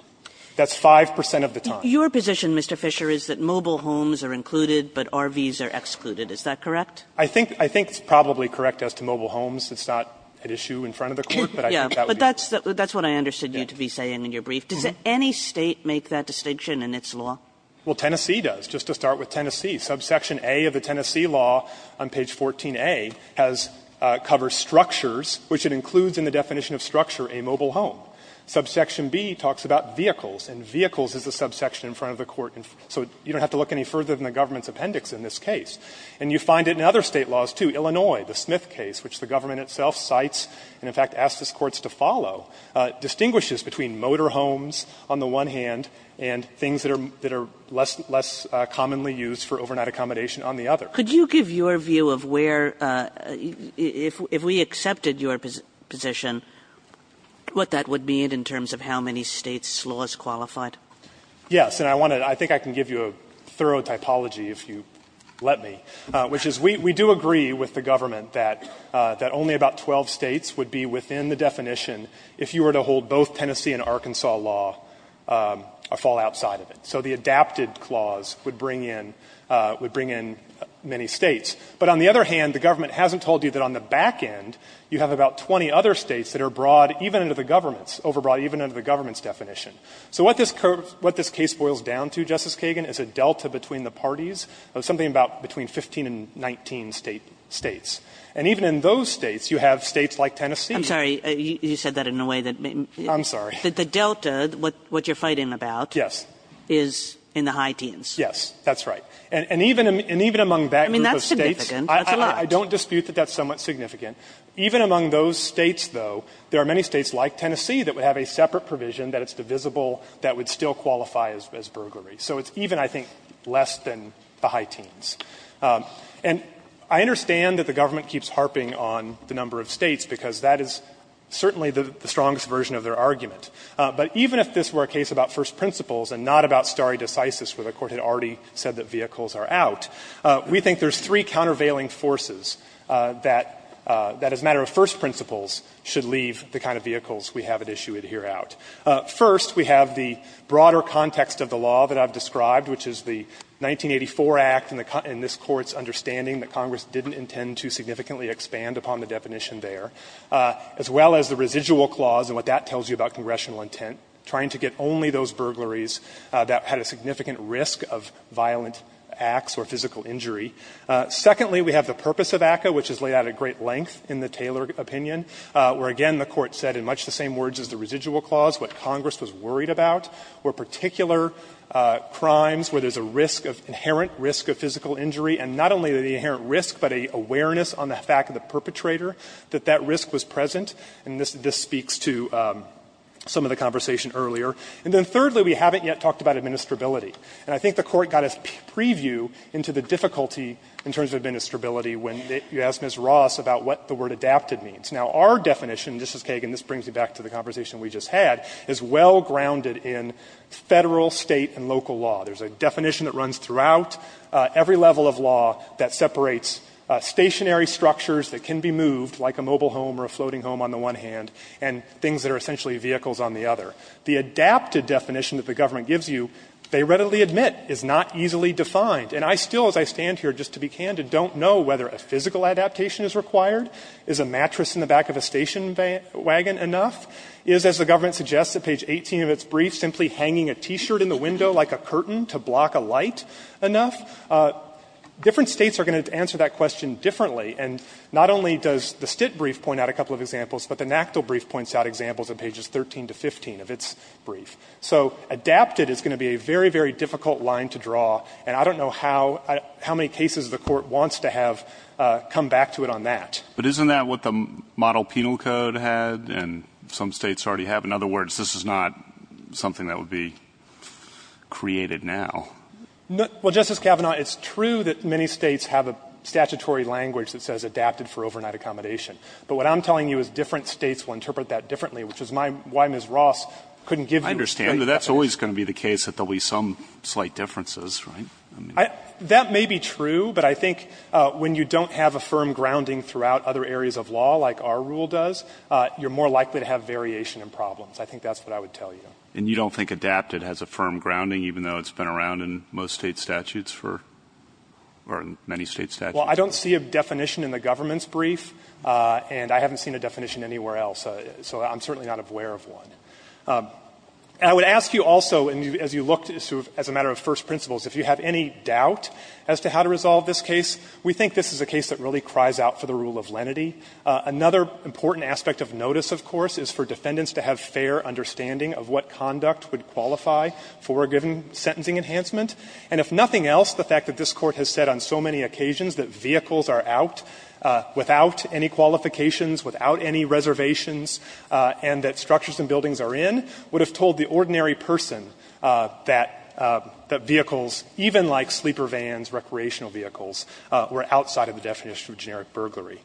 That's 5 percent of the time. Kagan. Your position, Mr. Fisher, is that mobile homes are included, but RVs are excluded. Is that correct? Fisher. I think it's probably correct as to mobile homes. It's not at issue in front of the Court, but I think that would be correct. Kagan. Yes. But that's what I understood you to be saying in your brief. Does any State make that distinction in its law? Fisher. Well, Tennessee does, just to start with Tennessee. Subsection A of the Tennessee law on page 14a covers structures, which it includes in the definition of structure, a mobile home. Subsection B talks about vehicles, and vehicles is a subsection in front of the Court. So you don't have to look any further than the government's appendix in this case. And you find it in other State laws, too. Illinois, the Smith case, which the government itself cites and, in fact, asks its courts to follow, distinguishes between motor homes on the one hand and things that are less commonly used for overnight accommodation on the other. Kagan. Could you give your view of where, if we accepted your position, what that would mean in terms of how many States' laws qualified? Fisher. Yes. And I want to – I think I can give you a thorough typology, if you let me, which is we do agree with the government that only about 12 States would be within the definition if you were to hold both Tennessee and Arkansas law or fall outside of it. So the adapted clause would bring in – would bring in many States. But on the other hand, the government hasn't told you that on the back end, you have about 20 other States that are broad even under the government's – overbroad even under the government's definition. So what this case boils down to, Justice Kagan, is a delta between the parties of something about between 15 and 19 States. And even in those States, you have States like Tennessee. I'm sorry. You said that in a way that made me – I'm sorry. The delta, what you're fighting about – Yes. – is in the high teens. Yes. That's right. And even among that group of States, I don't dispute that that's somewhat significant. Even among those States, though, there are many States like Tennessee that would have a separate provision that it's divisible that would still qualify as burglary. So it's even, I think, less than the high teens. And I understand that the government keeps harping on the number of States because that is certainly the strongest version of their argument. But even if this were a case about first principles and not about stare decisis, where the Court had already said that vehicles are out, we think there's three countervailing forces that, as a matter of first principles, should leave the kind of vehicles we have at issue here out. First, we have the broader context of the law that I've described, which is the 1984 Act and the – and this Court's understanding that Congress didn't intend to significantly expand upon the definition there, as well as the residual clause and what that tells you about congressionality. First, we have the purpose of ACCA, which is laid out at great length in the Taylor opinion, where, again, the Court said in much the same words as the residual clause, what Congress was worried about were particular crimes where there's a risk of – inherent risk of physical injury, and not only the inherent risk, but an awareness on the fact of the perpetrator that that risk was present. And this speaks to some of the conversation earlier. And then thirdly, we haven't yet talked about administrability. And I think the Court got its preview into the difficulty in terms of administrability when you asked Ms. Ross about what the word adapted means. Now, our definition – this is Kagan, this brings me back to the conversation we just had – is well grounded in Federal, State, and local law. There's a definition that runs throughout every level of law that separates stationary structures that can be moved, like a mobile home or a floating home on the one hand, and things that are essentially vehicles on the other. The adapted definition that the government gives you, they readily admit, is not easily defined. And I still, as I stand here, just to be candid, don't know whether a physical adaptation is required. Is a mattress in the back of a station wagon enough? Is, as the government suggests at page 18 of its brief, simply hanging a T-shirt in the window like a curtain to block a light enough? Different States are going to answer that question differently. And not only does the Stitt brief point out a couple of examples, but the NACDL brief points out examples at pages 13 to 15 of its brief. So adapted is going to be a very, very difficult line to draw, and I don't know how many cases the Court wants to have come back to it on that. But isn't that what the model penal code had and some States already have? In other words, this is not something that would be created now. Well, Justice Kavanaugh, it's true that many States have a statutory language that says adapted for overnight accommodation. But what I'm telling you is different States will interpret that differently, which is why Ms. Ross couldn't give you a straight definition. I understand. But that's always going to be the case that there will be some slight differences, right? That may be true, but I think when you don't have a firm grounding throughout other areas of law, like our rule does, you're more likely to have variation in problems. I think that's what I would tell you. And you don't think adapted has a firm grounding, even though it's been around in most State statutes for or in many State statutes? Well, I don't see a definition in the government's brief, and I haven't seen a definition anywhere else, so I'm certainly not aware of one. And I would ask you also, as you looked, as a matter of first principles, if you have any doubt as to how to resolve this case, we think this is a case that really cries out for the rule of lenity. Another important aspect of notice, of course, is for defendants to have fair understanding of what conduct would qualify for a given sentencing enhancement. And if nothing else, the fact that this Court has said on so many occasions that vehicles are out without any qualifications, without any reservations, and that structures and buildings are in, would have told the ordinary person that vehicles, even like sleeper vans, recreational vehicles, were outside of the definition of generic burglary.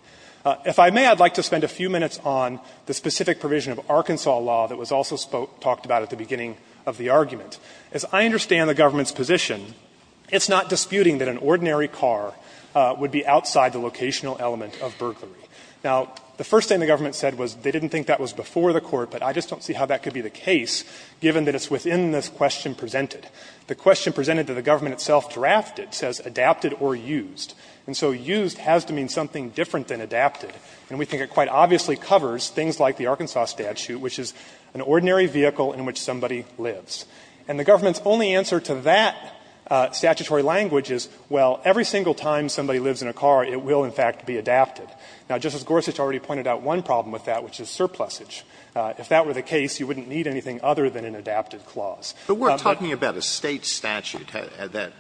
If I may, I'd like to spend a few minutes on the specific provision of Arkansas law that was also talked about at the beginning of the argument. As I understand the government's position, it's not disputing that an ordinary car would be outside the locational element of burglary. Now, the first thing the government said was they didn't think that was before the Court, but I just don't see how that could be the case, given that it's within this question presented. The question presented to the government itself drafted says adapted or used. And so used has to mean something different than adapted, and we think it quite obviously covers things like the Arkansas statute, which is an ordinary vehicle in which somebody lives. And the government's only answer to that statutory language is, well, every single time somebody lives in a car, it will, in fact, be adapted. Now, Justice Gorsuch already pointed out one problem with that, which is surplusage. If that were the case, you wouldn't need anything other than an adapted clause. Alito, but we're talking about a State statute that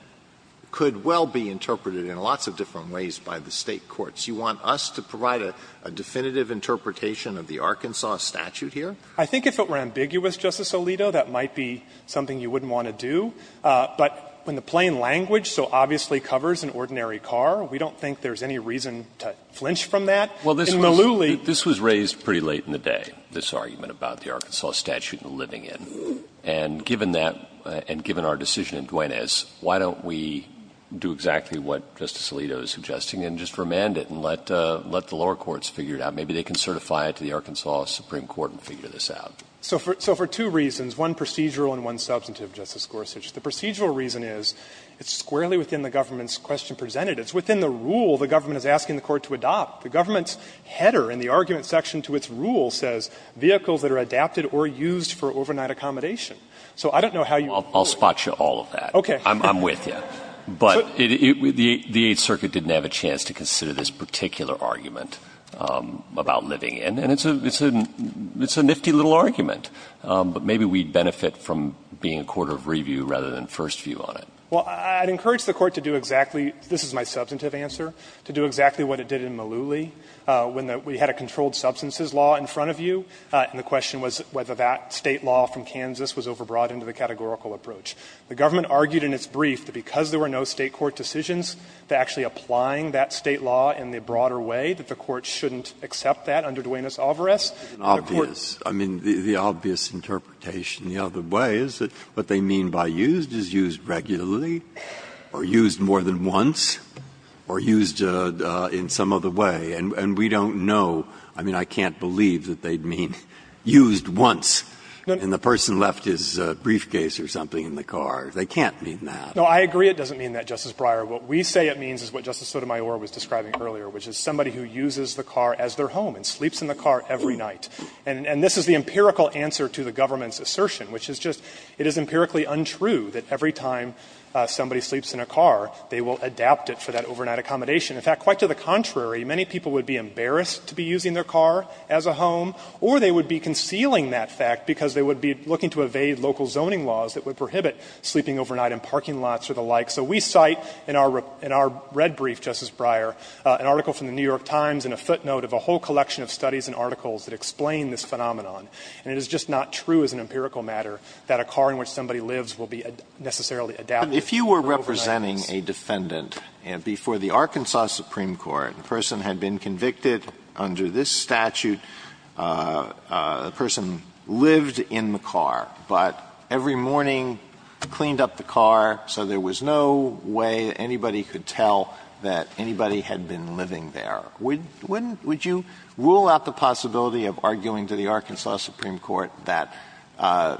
could well be interpreted in lots of different ways by the State courts. Do you want us to provide a definitive interpretation of the Arkansas statute here? I think if it were ambiguous, Justice Alito, that might be something you wouldn't want to do. But when the plain language so obviously covers an ordinary car, we don't think there's any reason to flinch from that. In Maluli the State statute is adapted. Well, this was raised pretty late in the day, this argument about the Arkansas statute and the living in. And given that and given our decision in Duanez, why don't we do exactly what Justice Alito is suggesting and just remand it and let the lower courts figure it out. Maybe they can certify it to the Arkansas Supreme Court and figure this out. So for two reasons, one procedural and one substantive, Justice Gorsuch. The procedural reason is it's squarely within the government's question presented. It's within the rule the government is asking the court to adopt. The government's header in the argument section to its rule says vehicles that are adapted or used for overnight accommodation. So I don't know how you would do it. I'll spot you all of that. Okay. I'm with you. But the Eighth Circuit didn't have a chance to consider this particular argument about living in. And it's a nifty little argument. But maybe we'd benefit from being a court of review rather than first view on it. Well, I'd encourage the Court to do exactly, this is my substantive answer, to do exactly what it did in Maluli when we had a controlled substances law in front of you, and the question was whether that State law from Kansas was overbrought into the categorical approach. The government argued in its brief that because there were no State court decisions to actually applying that State law in the broader way, that the Court shouldn't accept that under Duenas-Alvarez. Breyer. I mean, the obvious interpretation the other way is that what they mean by used is used regularly, or used more than once, or used in some other way. And we don't know, I mean, I can't believe that they'd mean used once, and the person left his briefcase or something in the car. They can't mean that. No, I agree it doesn't mean that, Justice Breyer. What we say it means is what Justice Sotomayor was describing earlier, which is somebody who uses the car as their home and sleeps in the car every night. And this is the empirical answer to the government's assertion, which is just it is empirically untrue that every time somebody sleeps in a car, they will adapt it for that overnight accommodation. In fact, quite to the contrary, many people would be embarrassed to be using their car as a home, or they would be concealing that fact because they would be looking to evade local zoning laws that would prohibit sleeping overnight in parking lots or the like. So we cite in our red brief, Justice Breyer, an article from the New York Times and a footnote of a whole collection of studies and articles that explain this phenomenon. And it is just not true as an empirical matter that a car in which somebody lives will be necessarily adapted for overnight use. Alito, if you were representing a defendant before the Arkansas Supreme Court, and the person had been convicted under this statute, the person lived in the car, but every morning cleaned up the car so there was no way anybody could tell that anybody had been living there, would you rule out the possibility of arguing to the Arkansas Supreme Court that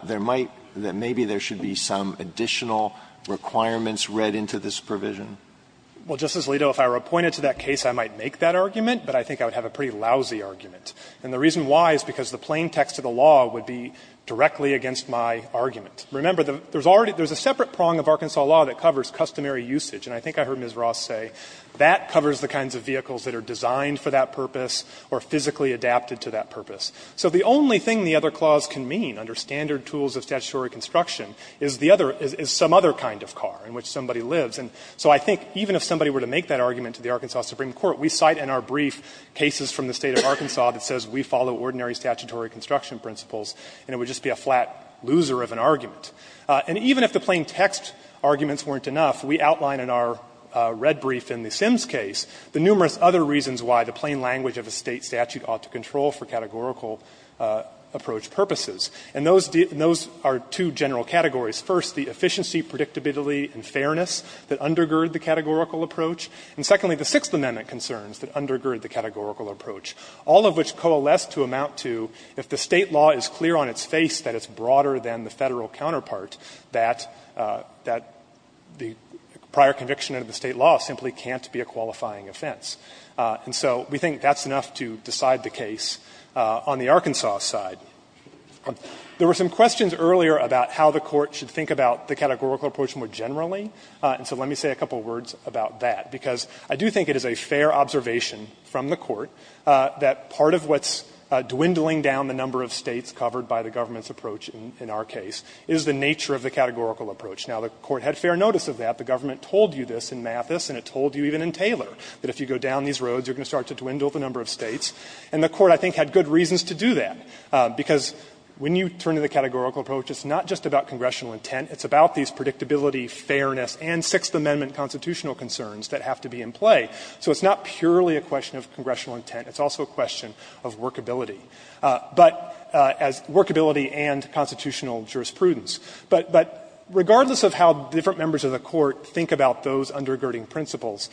there might — that maybe there should be some additional requirements read into this provision? Well, Justice Alito, if I were appointed to that case, I might make that argument, but I think I would have a pretty lousy argument. And the reason why is because the plain text of the law would be directly against my argument. Remember, there's already — there's a separate prong of Arkansas law that covers customary usage, and I think I heard Ms. Ross say that covers the kinds of vehicles that are designed for that purpose or physically adapted to that purpose. So the only thing the other clause can mean under standard tools of statutory construction is the other — is some other kind of car in which somebody lives. And so I think even if somebody were to make that argument to the Arkansas Supreme Court, we cite in our brief cases from the State of Arkansas that says we follow ordinary statutory construction principles, and it would just be a flat loser of an argument. And even if the plain text arguments weren't enough, we outline in our red brief in the Sims case the numerous other reasons why the plain language of a State statute ought to control for categorical approach purposes. And those are two general categories. First, the efficiency, predictability, and fairness that undergird the categorical approach. And secondly, the Sixth Amendment concerns that undergird the categorical approach, all of which coalesce to amount to if the State law is clear on its face that it's broader than the Federal counterpart, that — that the prior conviction under the State law simply can't be a qualifying offense. And so we think that's enough to decide the case on the Arkansas side. There were some questions earlier about how the Court should think about the categorical approach more generally, and so let me say a couple of words about that, because I do think it is a fair observation from the Court that part of what's dwindling down the number of States covered by the government's approach in our case is the nature of the categorical approach. Now, the Court had fair notice of that. The government told you this in Mathis, and it told you even in Taylor, that if you go down these roads, you're going to start to dwindle the number of States. And the Court, I think, had good reasons to do that, because when you turn to the categorical approach, it's not just about congressional intent. It's about these predictability, fairness, and Sixth Amendment constitutional concerns that have to be in play. So it's not purely a question of congressional intent. It's also a question of workability. But as workability and constitutional jurisprudence. But regardless of how different members of the Court think about those undergirding principles,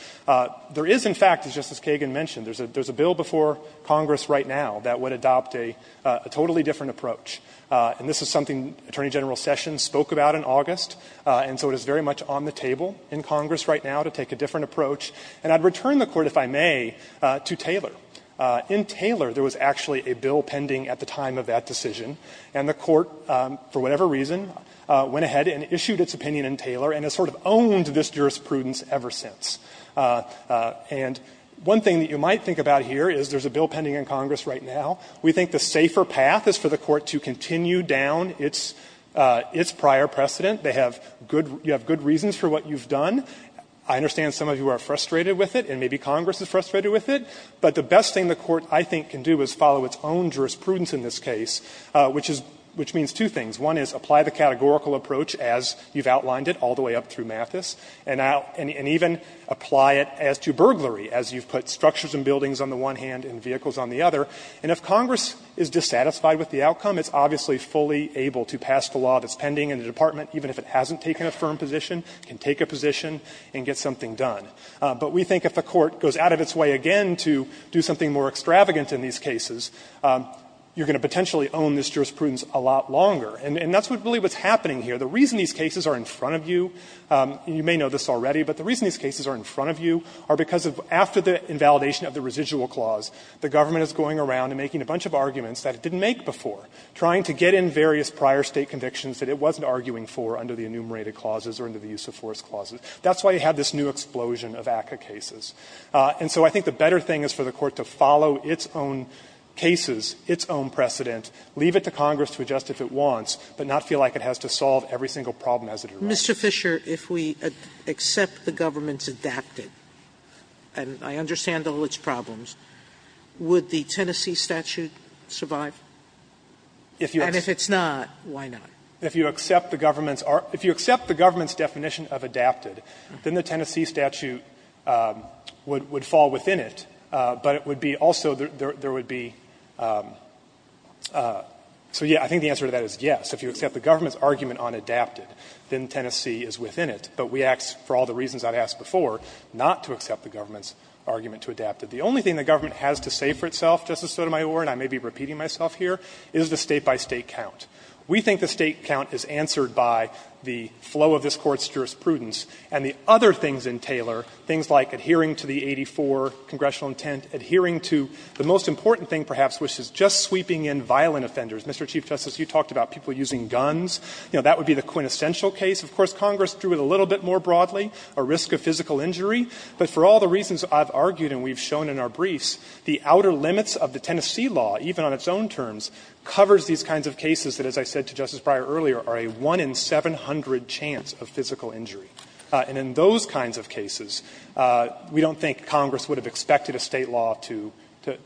there is, in fact, as Justice Kagan mentioned, there's a bill before Congress right now that would adopt a totally different approach. And this is something Attorney General Sessions spoke about in August. And so it is very much on the table in Congress right now to take a different approach. And I'd return the Court, if I may, to Taylor. In Taylor, there was actually a bill pending at the time of that decision. And the Court, for whatever reason, went ahead and issued its opinion in Taylor and has sort of owned this jurisprudence ever since. And one thing that you might think about here is there's a bill pending in Congress right now. We think the safer path is for the Court to continue down its prior precedent. They have good – you have good reasons for what you've done. I understand some of you are frustrated with it, and maybe Congress is frustrated with it. But the best thing the Court, I think, can do is follow its own jurisprudence in this case, which is – which means two things. One is apply the categorical approach as you've outlined it all the way up through Mathis. And even apply it as to burglary, as you've put structures and buildings on the one hand and vehicles on the other. And if Congress is dissatisfied with the outcome, it's obviously fully able to pass the law that's pending in the department, even if it hasn't taken a firm position, can take a position and get something done. But we think if the Court goes out of its way again to do something more extravagant in these cases, you're going to potentially own this jurisprudence a lot longer. And that's really what's happening here. The reason these cases are in front of you, you may know this already, but the reason these cases are in front of you are because after the invalidation of the residual clause, the government is going around and making a bunch of arguments that it didn't make before, trying to get in various prior State convictions that it wasn't arguing for under the enumerated clauses or under the use of force clauses. That's why you have this new explosion of ACCA cases. And so I think the better thing is for the Court to follow its own cases, its own precedent, leave it to Congress to adjust if it wants, but not feel like it has to solve everything or every single problem as it arises. Sotomayor, if we accept the government's adapted, and I understand all its problems, would the Tennessee statute survive? And if it's not, why not? Fisher, if you accept the government's definition of adapted, then the Tennessee statute would fall within it, but it would be also, there would be, so, yes, I think the answer to that is yes. If you accept the government's argument on adapted, then Tennessee is within it. But we ask, for all the reasons I've asked before, not to accept the government's argument to adapted. The only thing the government has to say for itself, Justice Sotomayor, and I may be repeating myself here, is the State-by-State count. We think the State count is answered by the flow of this Court's jurisprudence and the other things in Taylor, things like adhering to the 84 congressional intent, adhering to the most important thing, perhaps, which is just sweeping in violent offenders. Mr. Chief Justice, you talked about people using guns. You know, that would be the quintessential case. Of course, Congress drew it a little bit more broadly, a risk of physical injury. But for all the reasons I've argued and we've shown in our briefs, the outer limits of the Tennessee law, even on its own terms, covers these kinds of cases that, as I said to Justice Breyer earlier, are a 1 in 700 chance of physical injury. And in those kinds of cases, we don't think Congress would have expected a State law to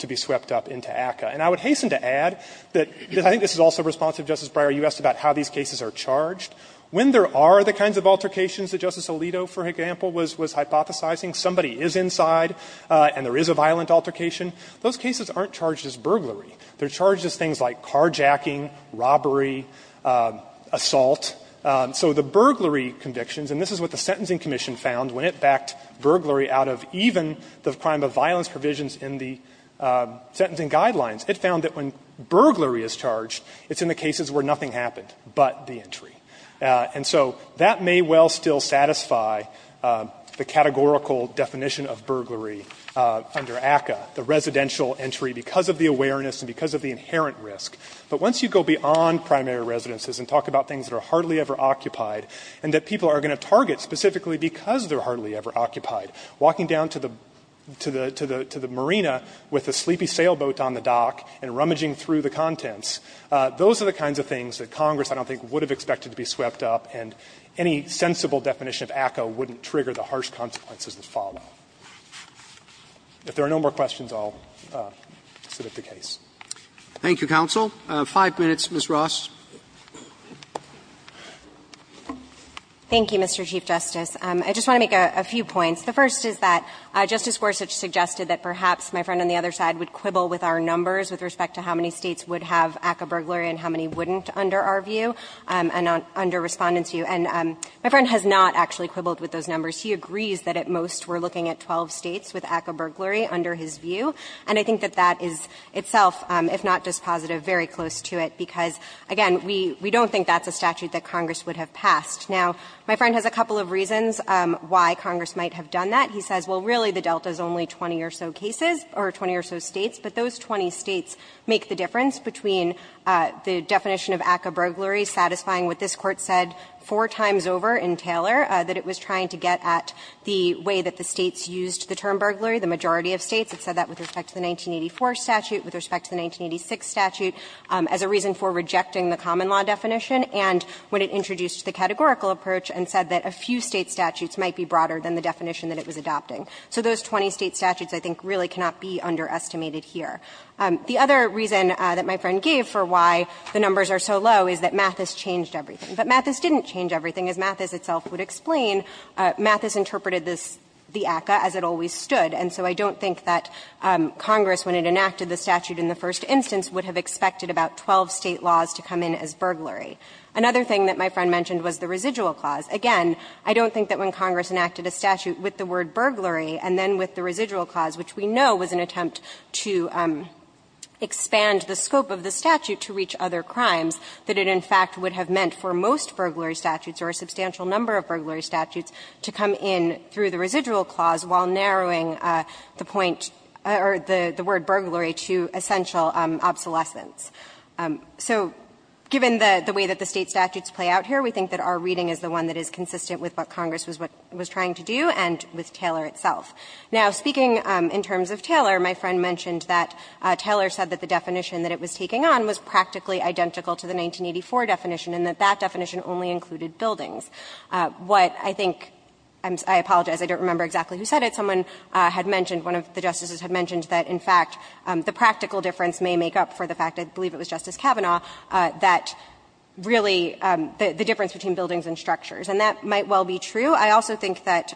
be swept up into ACCA. And I would hasten to add that I think this is also responsive, Justice Breyer, you asked about how these cases are charged. When there are the kinds of altercations that Justice Alito, for example, was hypothesizing, somebody is inside and there is a violent altercation, those cases aren't charged as burglary. They're charged as things like carjacking, robbery, assault. So the burglary convictions, and this is what the Sentencing Commission found when it backed burglary out of even the crime of violence provisions in the Sentencing Guidelines, it found that when burglary is charged, it's in the cases where nothing happened but the entry. And so that may well still satisfy the categorical definition of burglary under ACCA, the residential entry, because of the awareness and because of the inherent risk. But once you go beyond primary residences and talk about things that are hardly ever occupied and that people are going to target specifically because they're hardly ever occupied, walking down to the marina with a sleepy sailboat on board on the dock and rummaging through the contents, those are the kinds of things that Congress, I don't think, would have expected to be swept up, and any sensible definition of ACCA wouldn't trigger the harsh consequences that follow. If there are no more questions, I'll submit the case. Thank you, counsel. Five minutes, Ms. Ross. Thank you, Mr. Chief Justice. I just want to make a few points. The first is that Justice Gorsuch suggested that perhaps my friend on the other side would quibble with our numbers with respect to how many States would have ACCA burglary and how many wouldn't under our view and under Respondent's view, and my friend has not actually quibbled with those numbers. He agrees that at most we're looking at 12 States with ACCA burglary under his view, and I think that that is itself, if not dispositive, very close to it, because, again, we don't think that's a statute that Congress would have passed. Now, my friend has a couple of reasons why Congress might have done that. He says, well, really, the Delta is only 20 or so cases or 20 or so States, but those 20 States make the difference between the definition of ACCA burglary satisfying what this Court said four times over in Taylor, that it was trying to get at the way that the States used the term burglary, the majority of States. It said that with respect to the 1984 statute, with respect to the 1986 statute, as a reason for rejecting the common law definition, and when it introduced the categorical approach and said that a few State statutes might be broader than the definition that it was adopting. So those 20 State statutes, I think, really cannot be underestimated here. The other reason that my friend gave for why the numbers are so low is that Mathis changed everything. But Mathis didn't change everything. As Mathis itself would explain, Mathis interpreted this, the ACCA, as it always stood, and so I don't think that Congress, when it enacted the statute in the first instance, would have expected about 12 State laws to come in as burglary. Another thing that my friend mentioned was the residual clause. Again, I don't think that when Congress enacted a statute with the word burglary and then with the residual clause, which we know was an attempt to expand the scope of the statute to reach other crimes, that it in fact would have meant for most burglary statutes or a substantial number of burglary statutes to come in through the residual clause while narrowing the point or the word burglary to essential obsolescence. So given the way that the State statutes play out here, we think that our reading is the one that is consistent with what Congress was trying to do and with Taylor itself. Now, speaking in terms of Taylor, my friend mentioned that Taylor said that the definition that it was taking on was practically identical to the 1984 definition and that that definition only included buildings. What I think – I apologize, I don't remember exactly who said it. Someone had mentioned, one of the Justices had mentioned that in fact the practical difference may make up for the fact, I believe it was Justice Kavanaugh, that really the difference between buildings and structures, and that might well be true. I also think that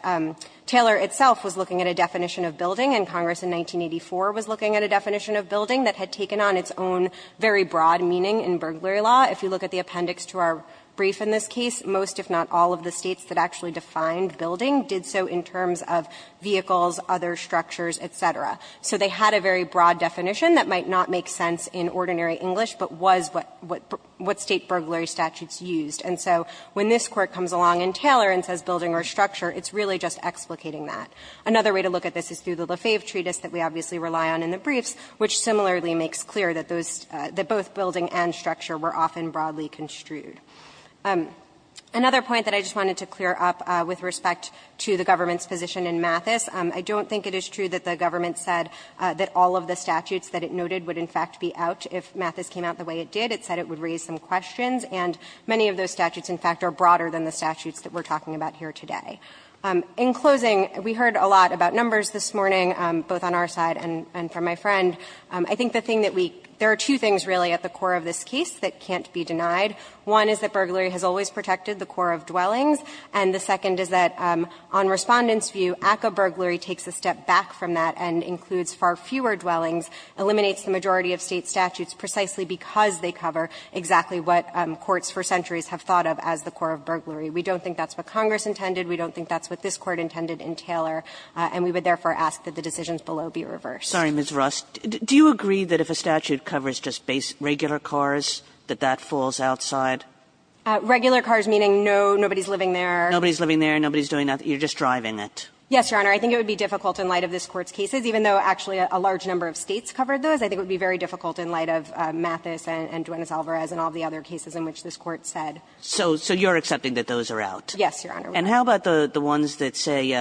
Taylor itself was looking at a definition of building and Congress in 1984 was looking at a definition of building that had taken on its own very broad meaning in burglary law. If you look at the appendix to our brief in this case, most if not all of the States that actually defined building did so in terms of vehicles, other structures, et cetera. So they had a very broad definition that might not make sense in ordinary English, but was what State burglary statutes used. And so when this Court comes along in Taylor and says building or structure, it's really just explicating that. Another way to look at this is through the Lefebvre treatise that we obviously rely on in the briefs, which similarly makes clear that those – that both building and structure were often broadly construed. Another point that I just wanted to clear up with respect to the government's position in Mathis, I don't think it is true that the government said that all of the statutes that it noted would in fact be out if Mathis came out the way it did. It said it would raise some questions, and many of those statutes, in fact, are broader than the statutes that we are talking about here today. In closing, we heard a lot about numbers this morning, both on our side and from my friend. I think the thing that we – there are two things really at the core of this case that can't be denied. One is that burglary has always protected the core of dwellings, and the second is that on Respondent's view, ACCA burglary takes a step back from that and includes far fewer dwellings, eliminates the majority of State statutes precisely because they cover exactly what courts for centuries have thought of as the core of burglary. We don't think that's what Congress intended. We don't think that's what this Court intended in Taylor. And we would therefore ask that the decisions below be reversed. Kagan. Kagan. Ms. Rost, do you agree that if a statute covers just regular cars, that that falls outside? Regular cars meaning no – nobody's living there? Nobody's living there. Nobody's doing nothing. You're just driving it. Yes, Your Honor. I think it would be difficult in light of this Court's cases, even though actually a large number of States covered those. I think it would be very difficult in light of Mathis and Duenes-Alvarez and all the other cases in which this Court said. So you're accepting that those are out? Yes, Your Honor. And how about the ones that say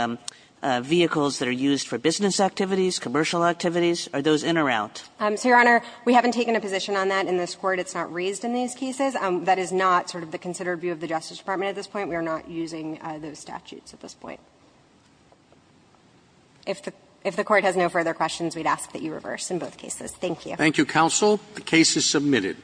vehicles that are used for business activities, commercial activities? Are those in or out? So, Your Honor, we haven't taken a position on that in this Court. It's not raised in these cases. That is not sort of the considered view of the Justice Department at this point. We are not using those statutes at this point. If the Court has no further questions, we'd ask that you reverse in both cases. Thank you. Thank you, counsel. The case is submitted.